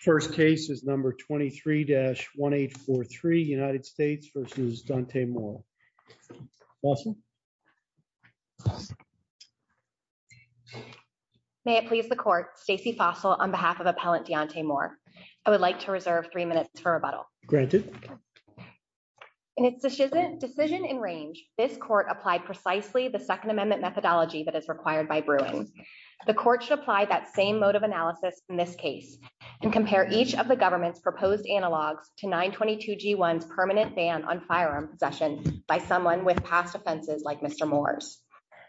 First case is number 23-1843 United States v. Deontay Moore. Fossil. May it please the court, Stacey Fossil on behalf of Appellant Deontay Moore. I would like to reserve three minutes for rebuttal. Granted. In its decision in range, this court applied precisely the Second Amendment methodology that is required by Bruin. The court should apply that same mode of analysis in this case and compare each of the government's proposed analogs to 922 G1's permanent ban on firearm possession by someone with past offenses like Mr. Moore's.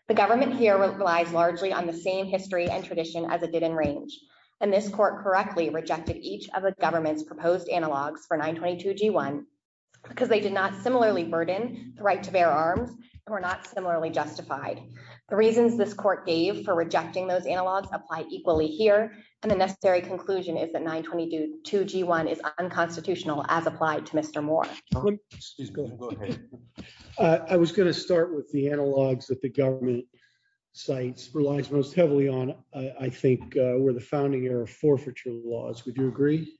The government here relies largely on the same history and tradition as it did in range. And this court correctly rejected each of the government's proposed analogs for 922 G1 because they did not similarly burden the right to bear arms or not similarly justified. The reasons this court gave for rejecting those analogs apply equally here. And the necessary conclusion is that 922 G1 is unconstitutional as applied to Mr. Moore. I was going to start with the analogs that the government sites relies most heavily on, I think, were the founding era forfeiture laws. Would you agree?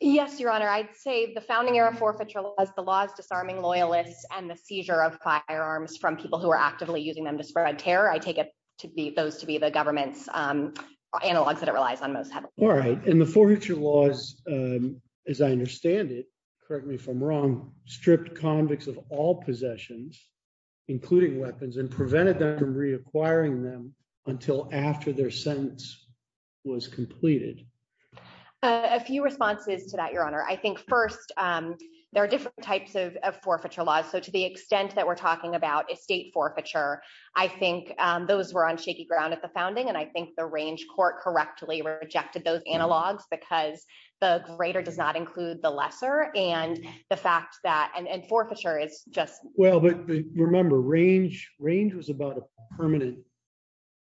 Yes, Your Honor, I'd say the founding era forfeiture laws, the laws disarming loyalists and the seizure of firearms from people who are actively using them to spread terror, I take it to be those to be the government's analogs that it relies on most heavily. All right. And the forfeiture laws, as I understand it, correct me if I'm wrong, stripped convicts of all possessions, including weapons and prevented them from reacquiring them until after their sentence was completed. A few responses to that, Your Honor. I think first, there are different types of forfeiture laws. So to the extent that we're talking about estate forfeiture, I think those were on shaky ground at the founding. And I think the range court correctly rejected those analogs because the greater does not include the lesser. And the fact that and forfeiture is just... Well, but remember range was about a permanent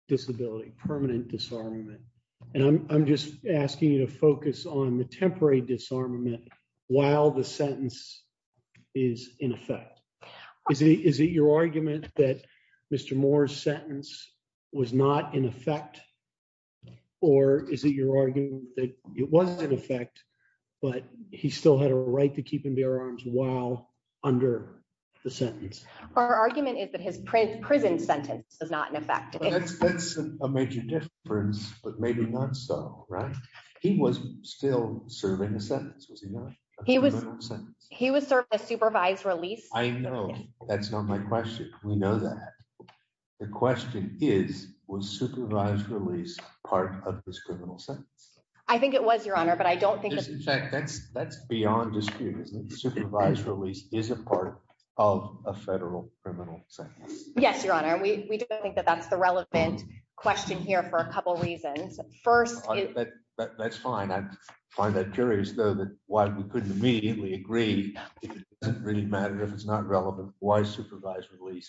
disability, permanent disarmament. And I'm just asking you to focus on the temporary disarmament while the sentence is in effect. Is it your argument that Mr. Moore's sentence was not in effect? Or is it your argument that it was in effect, but he still had a right to keep and bear arms while under the sentence? Our argument is that his prison sentence is not in effect. That's a major difference, but maybe not so, right? He was still serving a sentence, was he not? A criminal sentence. He was serving a supervised release. I know. That's not my question. We know that. The question is, was supervised release part of this criminal sentence? I think it was, Your Honor, but I don't think... In fact, that's beyond dispute, isn't it? Supervised release is a part of a federal criminal sentence. Yes, Your Honor. We do think that that's the relevant question here for a couple of reasons. First... That's fine. I find that curious, though, that while we couldn't immediately agree, it doesn't really matter if it's not relevant, why supervised release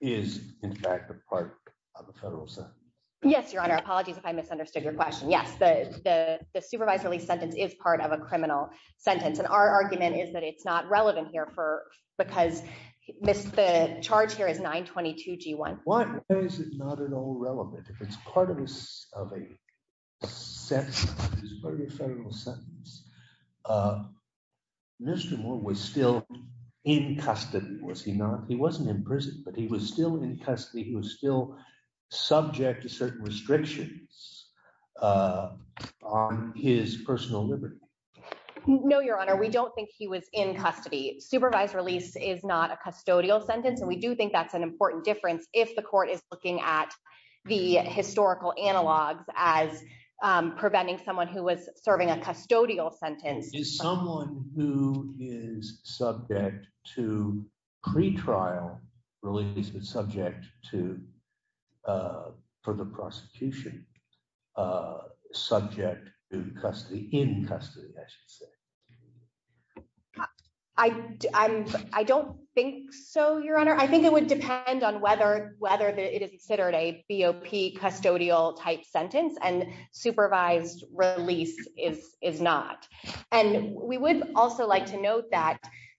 is, in fact, a part of a federal sentence. Yes, Your Honor. Apologies if I misunderstood your question. Yes, the supervised release sentence is part of a criminal sentence. And our argument is that it's not relevant here because the charge is 922 G1. Why is it not at all relevant? If it's part of a federal sentence, Mr. Moore was still in custody, was he not? He wasn't in prison, but he was still in custody. He was still subject to certain restrictions on his personal liberty. No, Your Honor. We don't think he was in custody. Supervised release is not a custodial sentence, and we do think that's an important difference if the court is looking at the historical analogs as preventing someone who was serving a custodial sentence. Is someone who is subject to pretrial release, but subject for the prosecution, subject to custody, in custody, I should say? I don't think so, Your Honor. I think it would depend on whether it is considered a BOP custodial type sentence, and supervised release is not. And we would also like to note that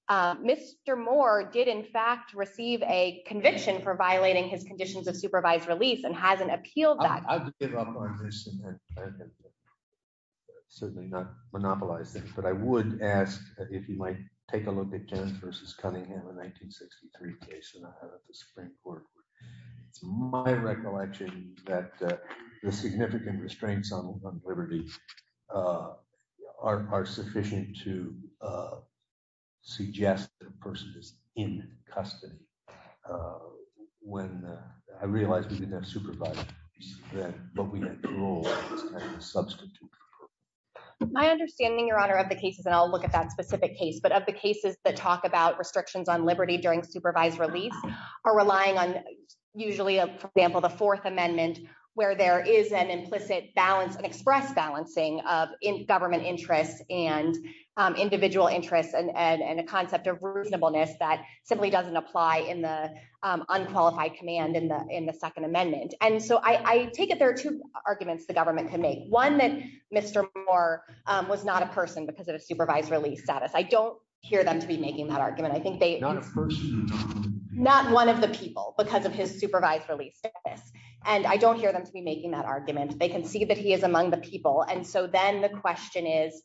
Mr. Moore did, in fact, receive a conviction for violating his conditions of supervised release and hasn't appealed that. I would give up on this and certainly not monopolize this, but I would ask if you might take a look at Kenneth versus Cunningham, a 1963 case in the Supreme Court. It's my recollection that the significant restraints on liberty are sufficient to suggest that a person is in custody. I realize we didn't have supervisors, but we had parole substitutes. My understanding, Your Honor, of the cases, and I'll look at that specific case, but of the cases that talk about restrictions on liberty during supervised release are relying on usually, for example, the Fourth Amendment, where there is an implicit balance, an express balancing of government interests and individual interests and a concept of reasonableness that simply doesn't apply in the unqualified command in the Second Amendment. And so I take it there are two arguments the government can make. One, that Mr. Moore was not a person because of his supervised release status. I don't hear them to be making that argument. Not one of the people because of his supervised release status. And I don't hear them to be the people. And so then the question is,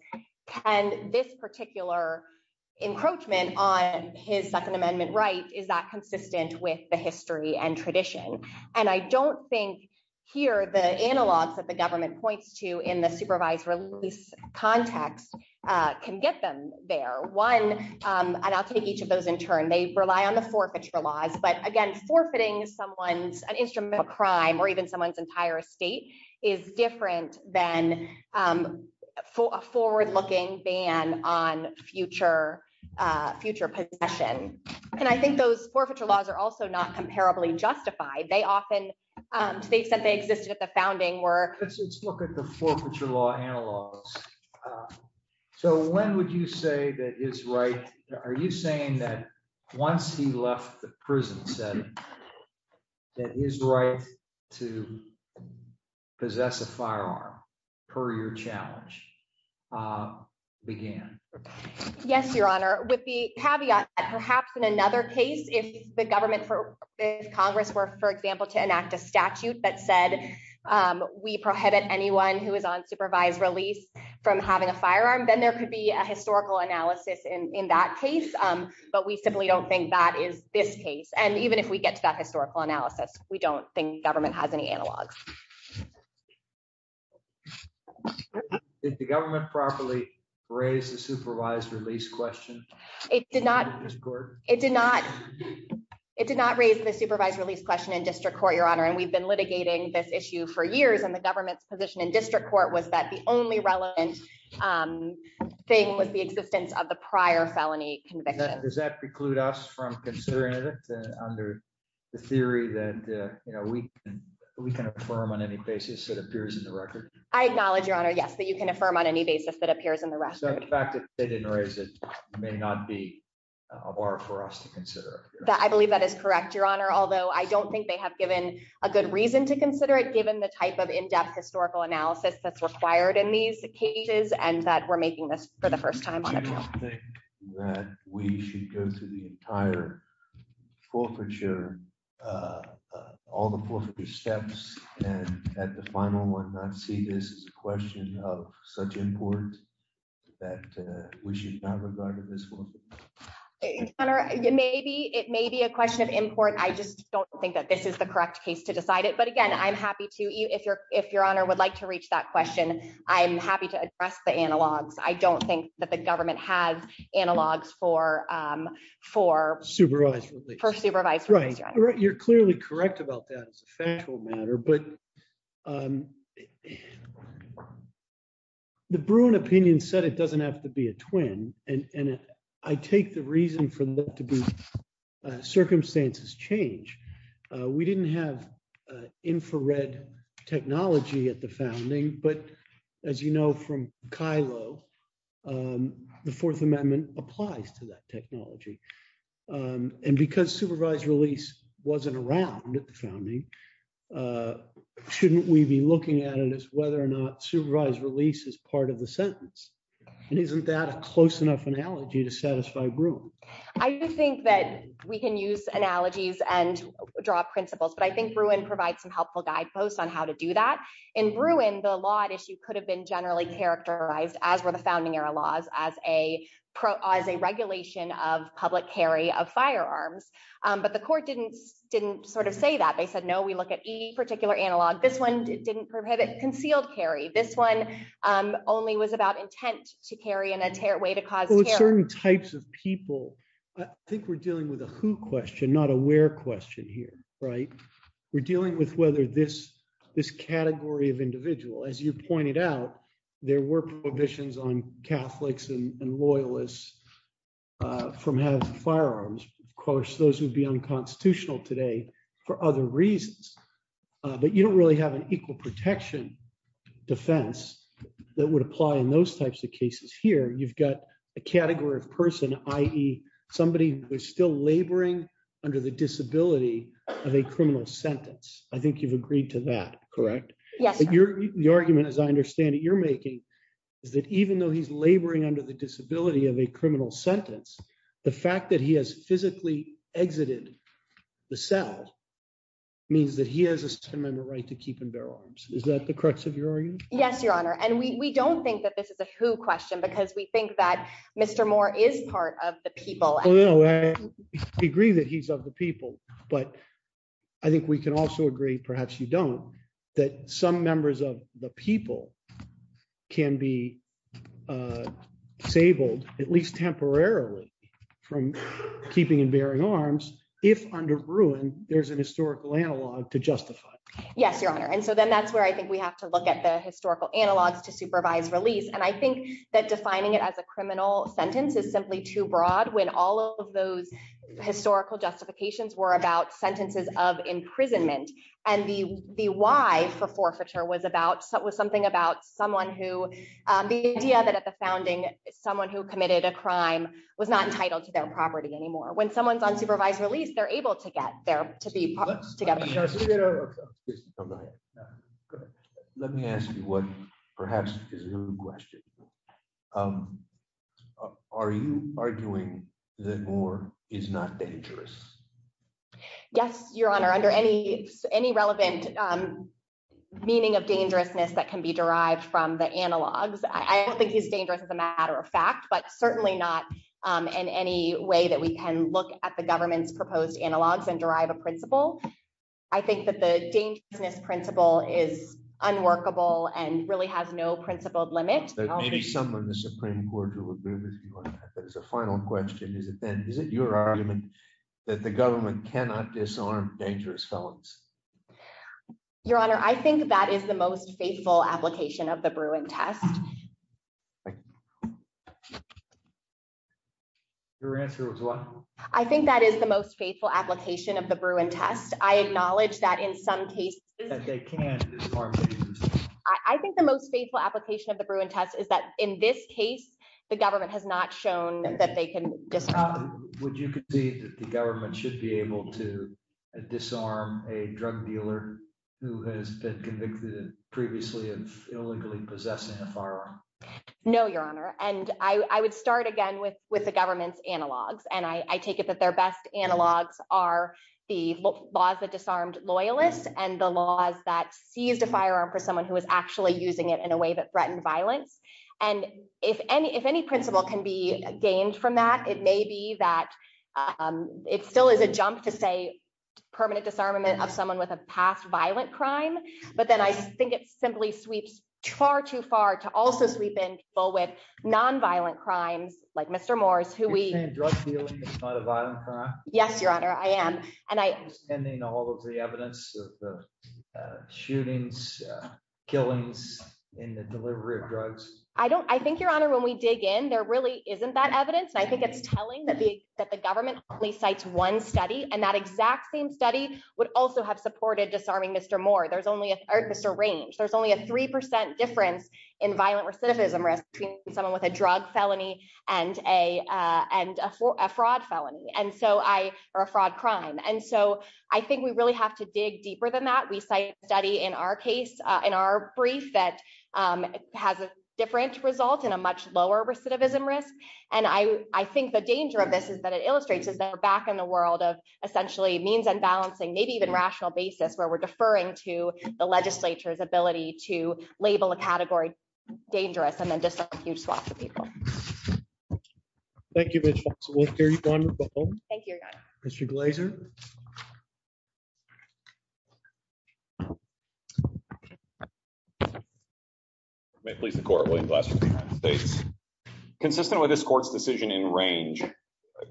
can this particular encroachment on his Second Amendment right, is that consistent with the history and tradition? And I don't think here the analogs that the government points to in the supervised release context can get them there. One, and I'll take each of those in turn, they rely on the forfeiture laws. But again, forfeiting someone's instrumental crime or even someone's entire estate is different than a forward-looking ban on future future possession. And I think those forfeiture laws are also not comparably justified. They often states that they existed at the founding were... Let's look at the forfeiture law analogs. So when would you say that is right? Are you saying that once he left the prison setting, that his right to possess a firearm per your challenge began? Yes, Your Honor, with the caveat that perhaps in another case, if the government for Congress were, for example, to enact a statute that said, we prohibit anyone who is on supervised release from having a firearm, then there could be a historical analysis in that case. But we simply don't think that is this case. And even if we get that historical analysis, we don't think government has any analogs. Did the government properly raise the supervised release question? It did not. It did not. It did not raise the supervised release question in district court, Your Honor. And we've been litigating this issue for years. And the government's position in district court was that the only relevant thing was the existence of the prior felony conviction. Does that preclude us from considering it under the theory that we can affirm on any basis that appears in the record? I acknowledge, Your Honor, yes, that you can affirm on any basis that appears in the record. So the fact that they didn't raise it may not be of art for us to consider. I believe that is correct, Your Honor. Although I don't think they have given a good reason to consider it given the type of in-depth historical analysis that's required in these cases and that making this for the first time on appeal. Do you think that we should go through the entire forfeiture, all the forfeiture steps, and at the final one not see this as a question of such import that we should not regard it as forfeiture? Your Honor, it may be a question of import. I just don't think that this is the correct case to decide it. But again, I'm happy if Your Honor would like to reach that question. I'm happy to address the analogs. I don't think that the government has analogs for supervised release. You're clearly correct about that as a factual matter. But the Bruin opinion said it doesn't have to be a twin. And I take the reason for that to be circumstances change. We didn't have infrared technology at the founding. But as you know from Kylo, the Fourth Amendment applies to that technology. And because supervised release wasn't around at the founding, shouldn't we be looking at it as whether or not supervised release is part of the sentence? And isn't that a close enough analogy to satisfy Bruin? I do think that we can use analogies and draw principles. But I think Bruin provides some helpful guideposts on how to do that. In Bruin, the law at issue could have been generally characterized, as were the founding era laws, as a regulation of public carry of firearms. But the court didn't sort of say that. They said, no, we look at E particular analog. This one didn't prohibit concealed carry. This one only was about intent to carry in a way to cause terror. With certain types of people, I think we're dealing with a who question, not a where question here, right? We're dealing with whether this category of individual, as you pointed out, there were prohibitions on Catholics and Loyalists from having firearms. Of course, those would be unconstitutional today for other reasons. But you don't really have an equal protection defense that would apply in those types of cases here. You've got a category of person, i.e. somebody who is still laboring under the disability of a criminal sentence. I think you've agreed to that, correct? Yes. The argument, as I understand it, you're making is that even though he's laboring under the disability of a criminal sentence, the fact that he has physically exited the cell means that he has a right to keep and bear arms. Is that the crux of your argument? Yes, Your Honor. And we don't think that this is a who question because we think that Mr. Moore is part of the people. We agree that he's of the people. But I think we can also agree, perhaps you don't, that some members of the people can be disabled, at least temporarily, from keeping and bearing arms if under ruin, there's an historical analog to justify. Yes, Your Honor. And so then that's where I think we have to look at the historical analogs to supervise release. And I think that defining it as a criminal sentence is simply too broad when all of those historical justifications were about sentences of imprisonment. And the why for forfeiture was something about someone who, the idea that at the founding, someone who committed a crime was not entitled to their property anymore. When someone's on supervised release, they're able to get there to be put together. Let me ask you what perhaps is a good question. Are you arguing that Moore is not dangerous? Yes, Your Honor, under any relevant meaning of dangerousness that can be derived from the analogs. I don't think he's dangerous as a criminal. Certainly not in any way that we can look at the government's proposed analogs and derive a principle. I think that the dangerousness principle is unworkable and really has no principled limit. Maybe some of the Supreme Court will agree with you on that. But as a final question, is it then, is it your argument that the government cannot disarm dangerous felons? Your Honor, I think that is the most faithful application of the Bruin test. Your answer was what? I think that is the most faithful application of the Bruin test. I acknowledge that in some cases they can disarm dangerous felons. I think the most faithful application of the Bruin test is that in this case, the government has not shown that they can disarm. Would you concede that the government should be able to disarm a drug dealer who has been convicted previously of illegally possessing a firearm? No, Your Honor. And I would start with the government's analogs. And I take it that their best analogs are the laws that disarmed loyalists and the laws that seized a firearm for someone who was actually using it in a way that threatened violence. And if any principle can be gained from that, it may be that it still is a jump to say permanent disarmament of someone with a past violent crime. But then I think it simply sweeps far too far to also sweep in people with non-violent crimes like Mr. Moore's who we. You're saying drug dealing is not a violent crime? Yes, Your Honor, I am. And I. Understanding all of the evidence, shootings, killings in the delivery of drugs. I think, Your Honor, when we dig in, there really isn't that evidence. I think it's telling that the government only cites one study and that exact same study would also have supported disarming Mr. Moore. There's only, or Mr. Range. There's a three percent difference in violent recidivism risk between someone with a drug felony and a fraud felony. And so I or a fraud crime. And so I think we really have to dig deeper than that. We study in our case, in our brief that has a different result in a much lower recidivism risk. And I think the danger of this is that it illustrates is that we're back in the world of essentially means and balancing, maybe even rational basis where we're deferring to the legislature's ability to label a category dangerous and then just a huge swath of people. Thank you. Mr. Glazer. May it please the court, William Glass from the United States. Consistent with this court's decision in range,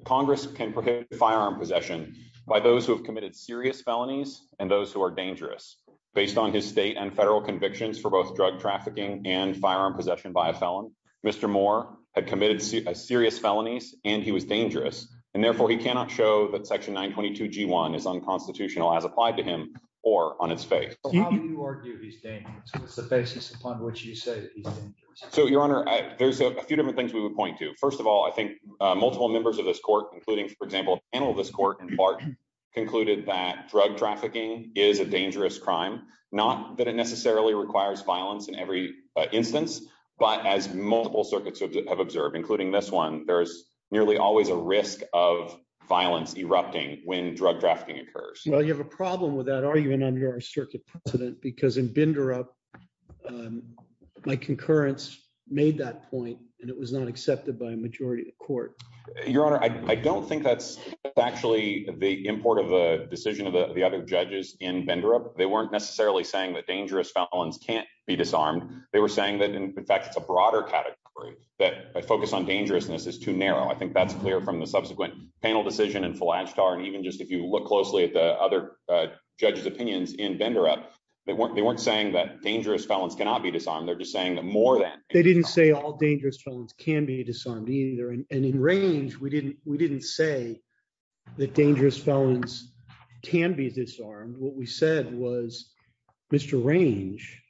Congress can prohibit firearm possession by those who have committed serious felonies and those who are dangerous based on his state and federal convictions for both drug trafficking and firearm possession by a felon. Mr. Moore had committed serious felonies and he was dangerous. And therefore he cannot show that section 922 G1 is unconstitutional as applied to him or on its face. It's the basis upon which you say. So your honor, there's a few different things we would point to. First of all, I think multiple members of this court, including, for example, panel, this court in part concluded that drug trafficking is a dangerous crime, not that it necessarily requires violence in every instance, but as multiple circuits have observed, including this one, there's nearly always a risk of violence erupting when drug trafficking occurs. Well, you have a problem with that argument under our circuit president, because in binder up my concurrence made that point and it was not accepted by a majority of your honor. I don't think that's actually the import of a decision of the other judges in vendor up. They weren't necessarily saying that dangerous felons can't be disarmed. They were saying that, in fact, it's a broader category that focus on dangerousness is too narrow. I think that's clear from the subsequent panel decision and even just if you look closely at the other judge's opinions in vendor up, they weren't saying that dangerous felons cannot be disarmed. They're just saying that more than they didn't say all dangerous felons can be disarmed either. And in range, we didn't say that dangerous felons can be disarmed. What we said was Mr. Range,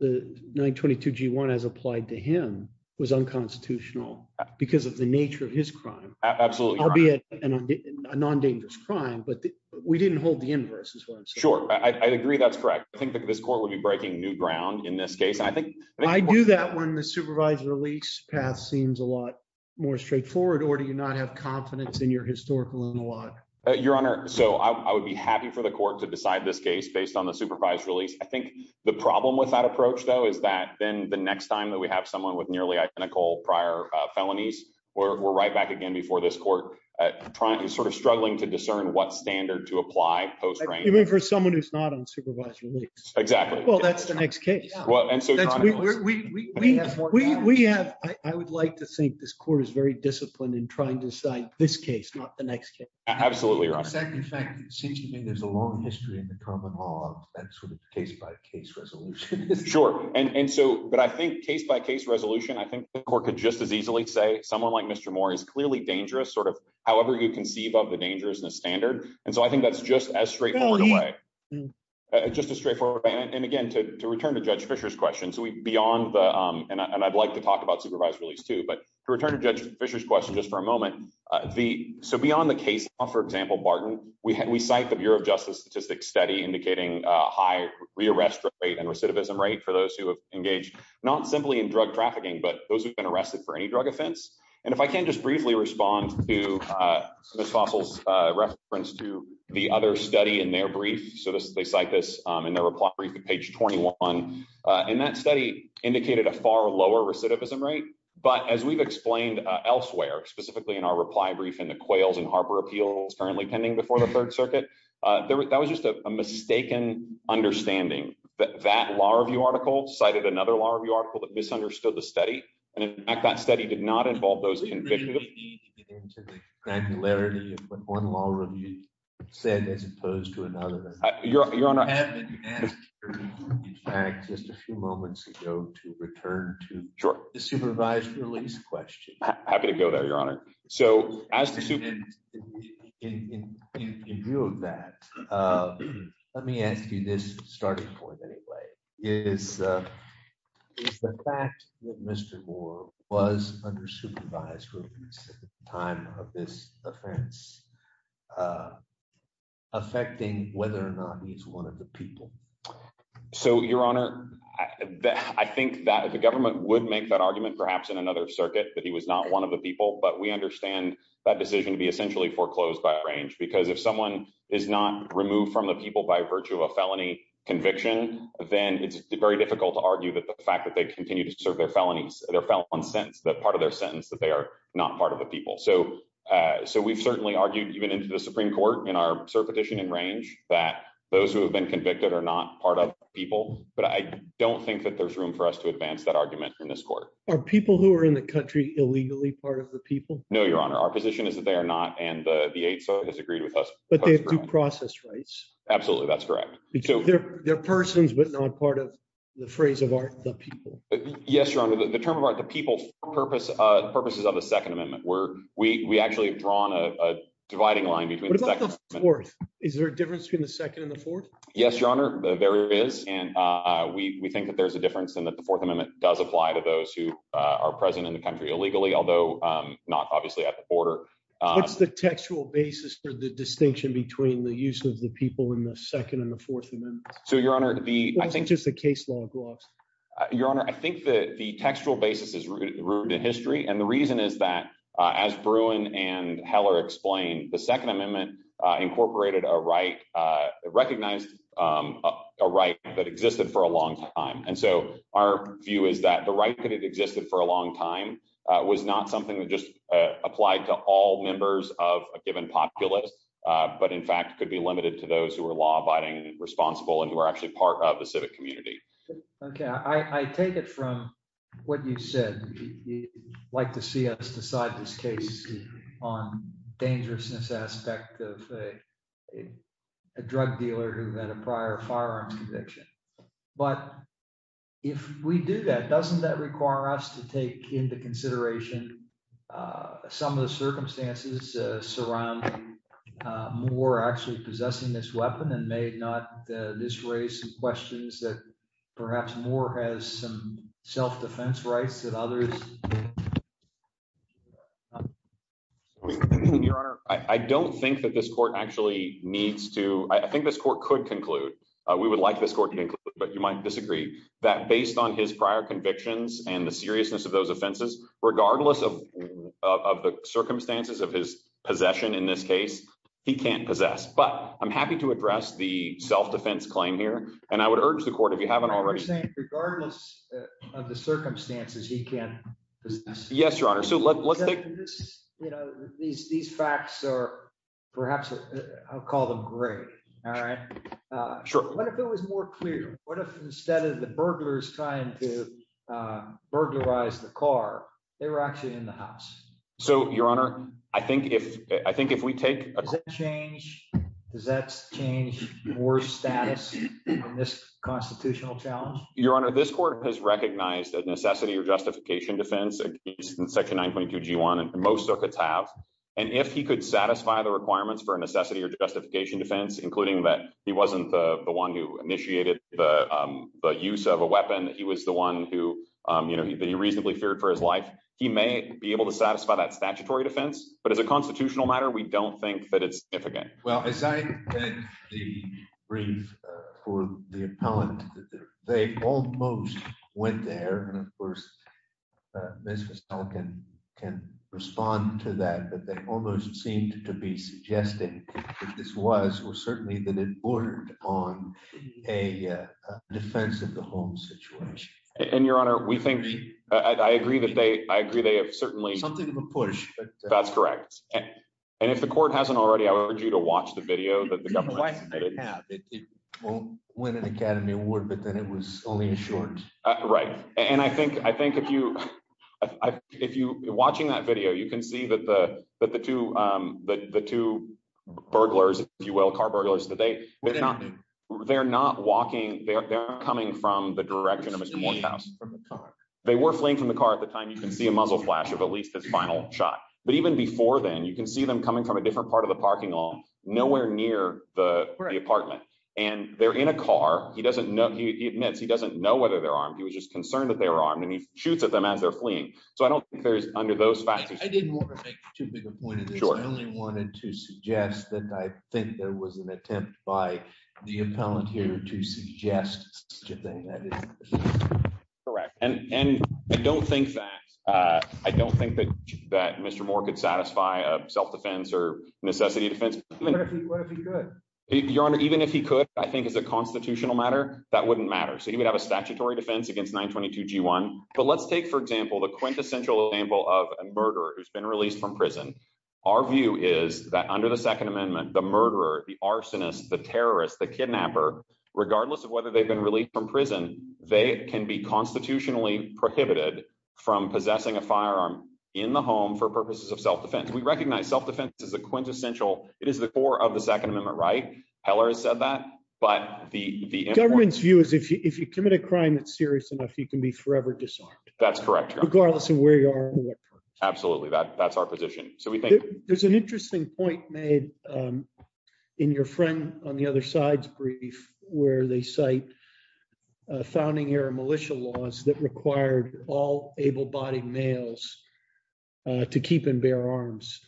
the 922 G1 as applied to him was unconstitutional because of the nature of his crime. I'll be at a non-dangerous crime, but we didn't hold the inverse is what I'm saying. Sure. I agree that's correct. I think that this court would be breaking new ground in this case. I do that when the supervised release path seems a lot more straightforward or do you not have confidence in your historical in a lot? Your Honor, so I would be happy for the court to decide this case based on the supervised release. I think the problem with that approach though is that then the next time that we have someone with nearly identical prior felonies, we're right back again before this court trying to sort of struggling to discern what standard to apply even for someone who's not on supervised release. Exactly. Well, that's the next case. I would like to think this court is very disciplined in trying to decide this case, not the next case. Absolutely, Your Honor. In fact, it seems to me there's a long history in the common law of that sort of case-by-case resolution. Sure. And so, but I think case-by-case resolution, I think the court could just as easily say someone like Mr. Moore is clearly dangerous, however you conceive of the dangers in the standard. And so, I think that's just as straightforward in a way. Just as straightforward. And again, to return to Judge Fischer's question, so we beyond the, and I'd like to talk about supervised release too, but to return to Judge Fischer's question just for a moment, so beyond the case law, for example, Barton, we cite the Bureau of Justice statistics study indicating a high re-arrest rate and recidivism rate for those who have engaged not simply in drug trafficking, but those who've been arrested for any drug offense. And if I can just briefly respond to Ms. Fossil's reference to the other study in their brief, so they cite this in their reply brief at page 21, and that study indicated a far lower recidivism rate, but as we've explained elsewhere, specifically in our reply brief in the Quails and Harper appeals currently pending before the Third Circuit, that was just a mistaken understanding. That law review article cited another law review article that misunderstood the study, and in fact, that study did not involve those convicted. I really need to get into the granularity of what one law review said as opposed to another. Your Honor. I have been asked, in fact, just a few moments ago, to return to the supervised release question. I'm happy to go there, Your Honor. So as the... In view of that, let me ask you this starting point anyway. Is the fact that Mr. Moore was under supervised release at the time of this offense affecting whether or not he's one of the people? So, Your Honor, I think that the government would make that argument perhaps in another essentially foreclosed by a range, because if someone is not removed from the people by virtue of a felony conviction, then it's very difficult to argue that the fact that they continue to serve their felonies, their felon sentence, that part of their sentence that they are not part of the people. So we've certainly argued even into the Supreme Court in our cert petition and range that those who have been convicted are not part of people, but I don't think that there's room for us to advance that argument in this court. Are people who are in the country illegally part of the people? No, Your Honor. Our position is that they are not, and the 8th Circuit has agreed with us. But they have due process rights. Absolutely, that's correct. They're persons, but not part of the phrase of art, the people. Yes, Your Honor. The term of art, the people, purposes of the Second Amendment where we actually have drawn a dividing line between the Second Amendment... What about the Fourth? Is there a difference between the Second and the Fourth? Yes, Your Honor, there is. And we think that there's a difference and that the Fourth Amendment does apply to those who are present in the country illegally, although not obviously at the border. What's the textual basis for the distinction between the use of the people in the Second and the Fourth Amendment? So, Your Honor, I think... Or is it just a case law gloss? Your Honor, I think that the textual basis is rooted in history. And the reason is that as Bruin and Heller explained, the Second Amendment incorporated a right, recognized a right that existed for a long time. And so our view is that the right that had existed for a long time was not something that just applied to all members of a given populace, but in fact, could be limited to those who are law-abiding and responsible and who are actually part of the civic community. Okay. I take it from what you said. You'd like to see us decide this case on dangerousness aspect of a drug dealer who had a prior firearms conviction. But if we do that, doesn't that require us to take into consideration some of the circumstances surrounding Moore actually possessing this weapon and may not this raise some questions that Moore has some self-defense rights that others... Your Honor, I don't think that this Court actually needs to... I think this Court could conclude. We would like this Court to conclude, but you might disagree that based on his prior convictions and the seriousness of those offenses, regardless of the circumstances of his possession in this case, he can't possess. But I'm happy to address the self-defense claim here. And I urge the Court, if you haven't already... You're saying regardless of the circumstances, he can't possess? Yes, Your Honor. So let's take... These facts are perhaps... I'll call them gray. All right. What if it was more clear? What if instead of the burglars trying to burglarize the car, they were actually in the house? So, Your Honor, I think if we take... Does that change Moore's status on this constitutional challenge? Your Honor, this Court has recognized a necessity or justification defense in Section 922 G1, and most circuits have. And if he could satisfy the requirements for a necessity or justification defense, including that he wasn't the one who initiated the use of a weapon, that he was the one who reasonably feared for his life, he may be able to satisfy that statutory defense. But as a constitutional matter, we don't think that it's significant. Well, as I read the brief for the appellant, they almost went there. And of course, Ms. Fussell can respond to that, but they almost seemed to be suggesting that this was, or certainly that it bordered on a defense of the home situation. And Your Honor, we think... I agree that they have certainly... If the Court hasn't already, I would urge you to watch the video that the government... It won an Academy Award, but then it was only a short. Right. And I think if you're watching that video, you can see that the two burglars, if you will, car burglars, that they're not walking, they're coming from the direction of Mr. Morehouse. They were fleeing from the car at the time. You can see a muzzle flash of at least the final shot. But even before then, you can see them coming from a different part of the parking lot, nowhere near the apartment. And they're in a car. He admits he doesn't know whether they're armed. He was just concerned that they were armed and he shoots at them as they're fleeing. So I don't think there's under those facts... I didn't want to make too big a point of this. I only wanted to suggest that I think there was an attempt by the appellant here to suggest such a thing. That is correct. And I don't think that Mr. More could satisfy a self-defense or necessity defense. What if he could? Your Honor, even if he could, I think as a constitutional matter, that wouldn't matter. So he would have a statutory defense against 922 G1. But let's take, for example, the quintessential example of a murderer who's been released from prison. Our view is that under the Second Amendment, the murderer, the arsonist, the they can be constitutionally prohibited from possessing a firearm in the home for purposes of self-defense. We recognize self-defense is a quintessential. It is the core of the Second Amendment, right? Heller has said that. But the government's view is if you commit a crime that's serious enough, you can be forever disarmed. That's correct. Regardless of where you are. Absolutely. That's our position. There's an interesting point made in your friend on the other side's brief, where they cite founding-era militia laws that required all able-bodied males to keep and bear arms.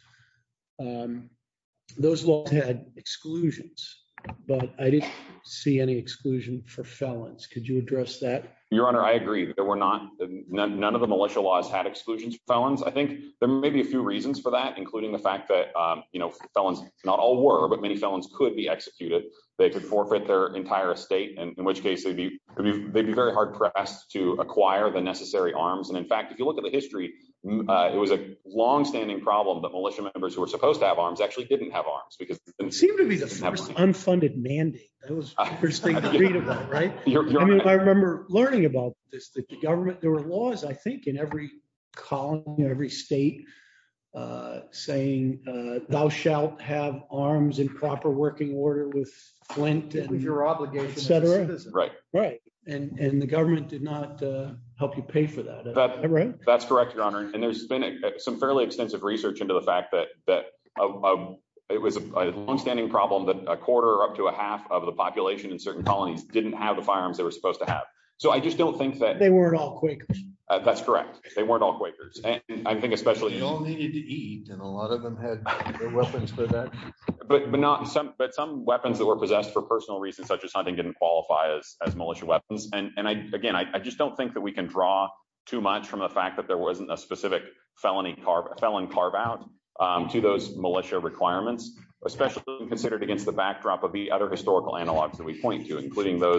Those laws had exclusions, but I didn't see any exclusion for felons. Could you address that? Your Honor, I agree. There were not, none of the militia laws had exclusions for felons. I think there may be a few reasons for that, including the fact that felons not all were, but many felons could be executed. They could forfeit their entire estate, in which case they'd be very hard-pressed to acquire the necessary arms. In fact, if you look at the history, it was a long-standing problem that militia members who were supposed to have arms actually didn't have arms. It seemed to be the first unfunded mandate. That was the first thing to read about. I remember learning about this, that the government, there were laws, I think, in every colony, in every state saying, thou shalt have arms in proper working order with Flint. With your obligation as a citizen. Right. Right. The government did not help you pay for that. That's correct, Your Honor. There's been some fairly extensive research into the fact that it was a long-standing problem that a quarter or up to a half of the population in certain I just don't think that... They weren't all Quakers. That's correct. They weren't all Quakers. I think especially... They all needed to eat, and a lot of them had their weapons for that. But some weapons that were possessed for personal reasons, such as hunting, didn't qualify as militia weapons. Again, I just don't think that we can draw too much from the fact that there wasn't a specific felon carve-out to those militia requirements, especially when considered against the backdrop of the other historical analogs that we point to, including the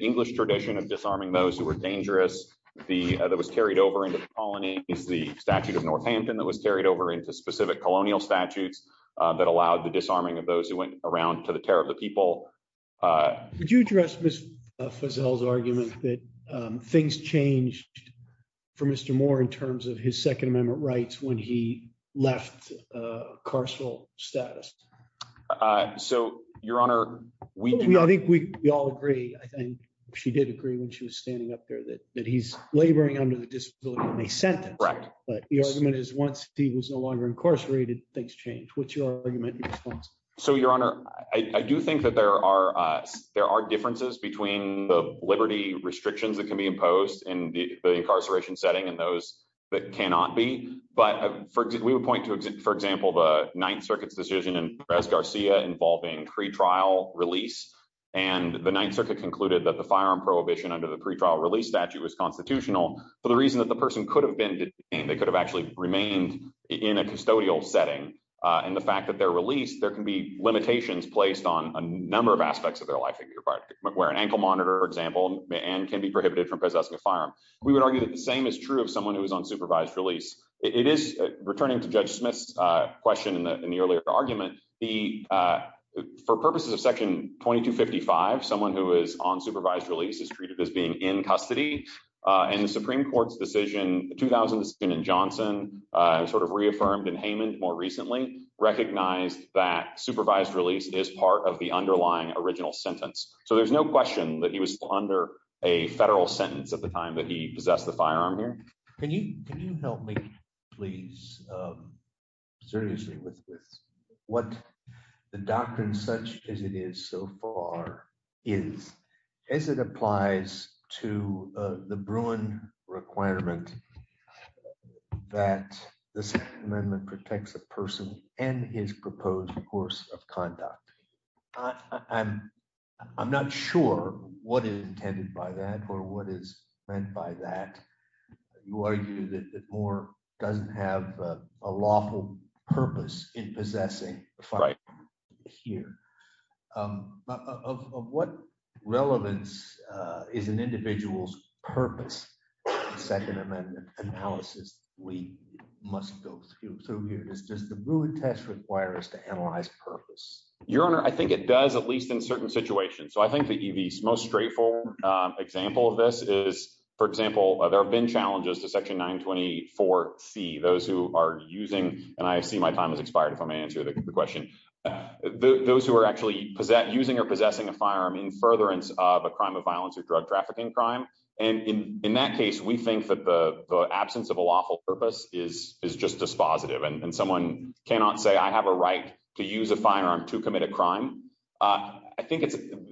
English tradition of disarming those who were dangerous, that was carried over into the colonies, the statute of Northampton that was carried over into specific colonial statutes that allowed the disarming of those who went around to the terror of the people. Would you address Ms. Fazell's argument that things changed for Mr. Moore in terms of his Second Amendment rights when he left carceral status? So, Your Honor, we do not... We all agree, and she did agree when she was standing up there, that he's laboring under the disability when they sent him. But the argument is once he was no longer incarcerated, things changed. What's your argument in response? So, Your Honor, I do think that there are differences between the liberty restrictions that can be imposed in the incarceration setting and those that cannot be. But we would point to, for example, the Ninth Circuit's decision in Perez-Garcia involving pre-trial release. And the Ninth Circuit concluded that the firearm prohibition under the pre-trial release statute was constitutional for the reason that the person could have been detained. They could have actually remained in a custodial setting. And the fact that they're released, there can be limitations placed on a number of aspects of their life. They could be required to wear an ankle monitor, for example, and can be prohibited from possessing a firearm. We would argue that the same is true of someone who is on supervised release. It is, returning to Judge Smith's question in the earlier argument, for purposes of Section 2255, someone who is on supervised release is treated as being in custody. And the Supreme Court's decision, the 2000 decision in Johnson, sort of reaffirmed in Haymond more recently, recognized that supervised release is part of the underlying original sentence. So there's no question that he was under a federal sentence at the time that he possessed the firearm here. Can you help me, please, seriously with this? What the doctrine such as it is so far is, as it applies to the Bruin requirement that the Second Amendment protects a person and his proposed course of conduct. I'm not sure what is intended by that or what is meant by that. You argue that Moore doesn't have a lawful purpose in possessing a firearm here. Of what relevance is an individual's purpose in the Second Amendment analysis we must go through here? Does the Bruin test require us to analyze purpose? Your Honor, I think it does, at least in certain situations. So I think the most straightforward example of this is, for example, there have been challenges to Section 924C, those who are using, and I see my time has expired if I may answer the question, those who are actually using or possessing a firearm in furtherance of a crime of violence or drug trafficking crime. And in that case, we think that the absence of a lawful purpose is just dispositive and someone cannot say, I have a right to use a firearm to commit a crime. I think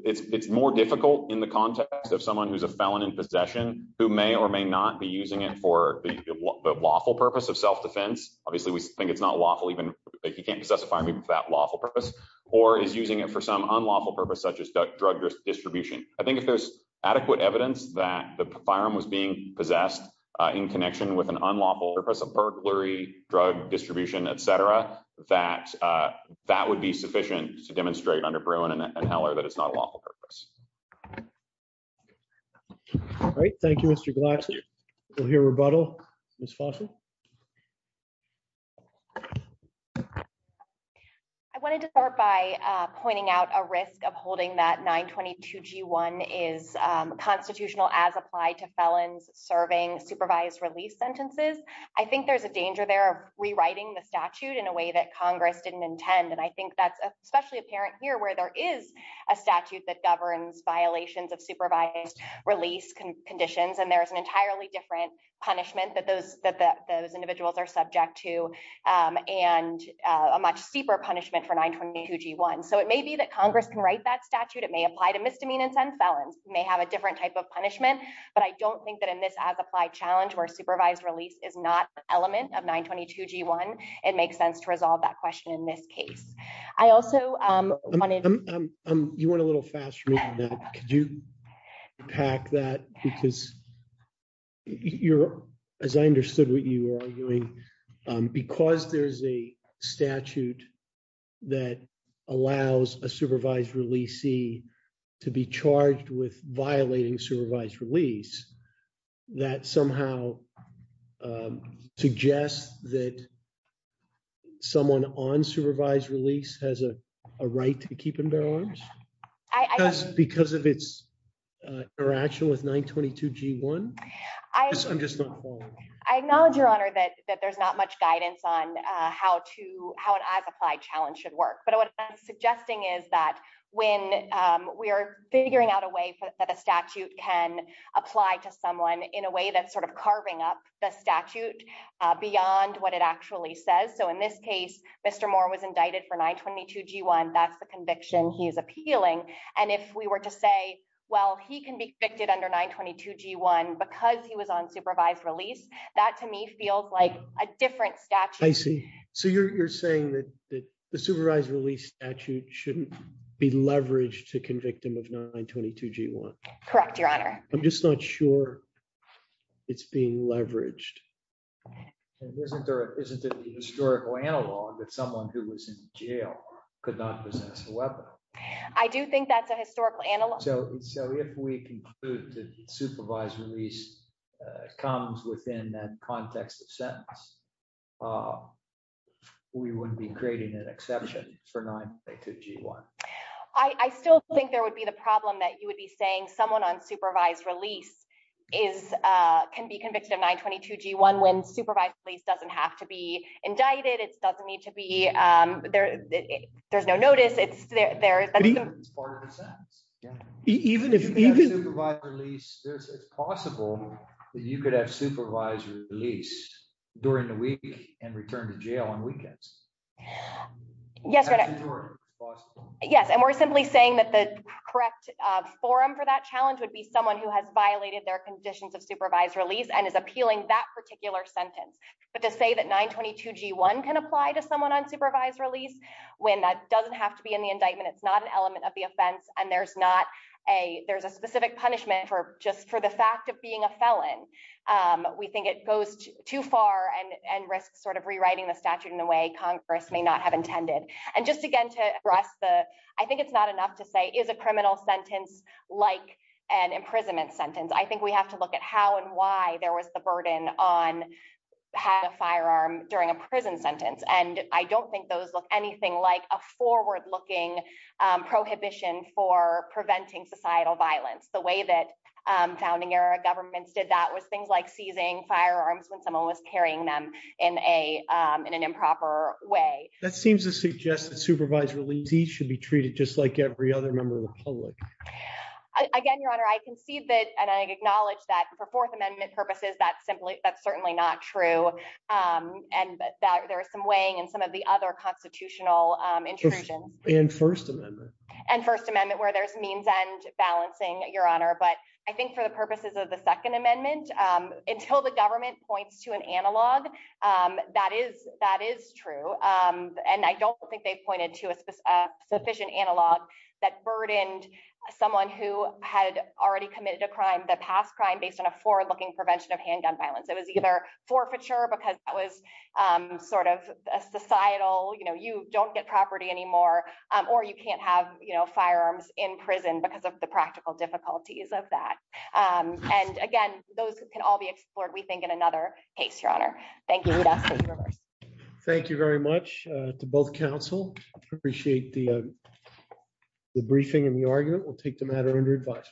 it's more difficult in the context of someone who's a felon in possession who may or may not be using it for the lawful purpose of self-defense. Obviously, we think it's not lawful even, he can't possess a firearm even for that lawful purpose, or is using it for some unlawful purpose such as drug distribution. I think if there's adequate evidence that the firearm was being possessed in connection with an unlawful purpose of burglary, drug distribution, etc., that would be sufficient to demonstrate under Bruin and Heller that it's not a lawful purpose. All right. Thank you, Mr. Glaxer. We'll hear rebuttal, Ms. Fossil. I wanted to start by pointing out a risk of holding that 922 G1 is constitutional as applied to felons serving supervised release sentences. I think there's a danger there of rewriting the statute in a way that Congress didn't intend. And I think that's especially apparent here where there is a statute that governs violations of supervised release conditions, and there's an entirely different punishment that those individuals are subject to, and a much steeper punishment for 922 G1. So it may be that Congress can write that statute, it may apply to misdemeanants and felons, may have a different type of punishment, but I don't think that in this as-applied challenge where supervised release is not an element of 922 G1, it makes sense to resolve that question in this case. You went a little fast for me on that. Could you unpack that? Because as I understood what you were arguing, because there's a statute that allows a supervised releasee to be charged with violating supervised release, that somehow suggests that someone on supervised release has a right to keep and bear arms? Because of its interaction with 922 G1? I'm just not following you. I acknowledge, Your Honor, that there's not much guidance on how an as-applied challenge should work. But what I'm suggesting is that when we are figuring out a way that a statute can apply to someone in a way that's sort of carving up the statute beyond what it actually says. So in this case, Mr. Moore was indicted for 922 G1, that's the conviction he's appealing. And if we were to say, well, he can be convicted under 922 G1 because he was on supervised release, that to me feels like a different statute. I see. So you're saying that the supervised release statute shouldn't be leveraged to convict him of 922 G1? Correct, Your Honor. I'm just not sure it's being leveraged. Isn't there a historical analog that someone who was in jail could not possess a weapon? I do think that's a historical analog. So if we conclude that supervised release comes within that context of sentence, we wouldn't be creating an exception for 922 G1? I still think there would be the problem that you would be saying someone on supervised release can be convicted of 922 G1 when supervised release doesn't have to be indicted. There's no notice. It's part of the sentence. It's possible that you could have supervised release during the week and return to jail on weekends. Yes. And we're simply saying that the correct forum for that challenge would be someone who has violated their conditions of supervised release and is appealing that particular sentence. But to say that 922 G1 can apply to someone on supervised release when that doesn't have to be in the indictment, it's not an element of the offense. And there's not a there's a specific punishment for just for the fact of being a felon. We think it goes too far and risks sort of rewriting the statute in a way Congress may not have intended. And just again to address the I think it's not enough to say is a criminal sentence like an imprisonment sentence. I think we have to look at how and why there was the burden on having a firearm during a prison sentence. And I don't think those look anything like a forward looking prohibition for preventing societal violence. The way that founding era governments did that was things like seizing firearms when someone was carrying them in a in an improper way. That seems to suggest that supervised release should be treated just like every other member of the public. Again, Your Honor, I can see that and I acknowledge that for Fourth Amendment purposes, that's simply that's certainly not true. And that there are some weighing and some of the other constitutional intrusion in First Amendment and First Amendment where there's means and balancing, Your Honor. But I think for the purposes of the Second Amendment, until the government points to an analog, that is that is true. And I don't think they've pointed to a sufficient analog that burdened someone who had already committed a crime that past crime based on a forward looking prevention of handgun violence. It was either forfeiture because that was sort of societal. You don't get property anymore or you can't have firearms in prison because of the practical difficulties of that. And again, those can all be explored, we think, in another case, Your Honor. Thank you. Thank you very much to both counsel. Appreciate the briefing and the argument. We'll take the matter under advice.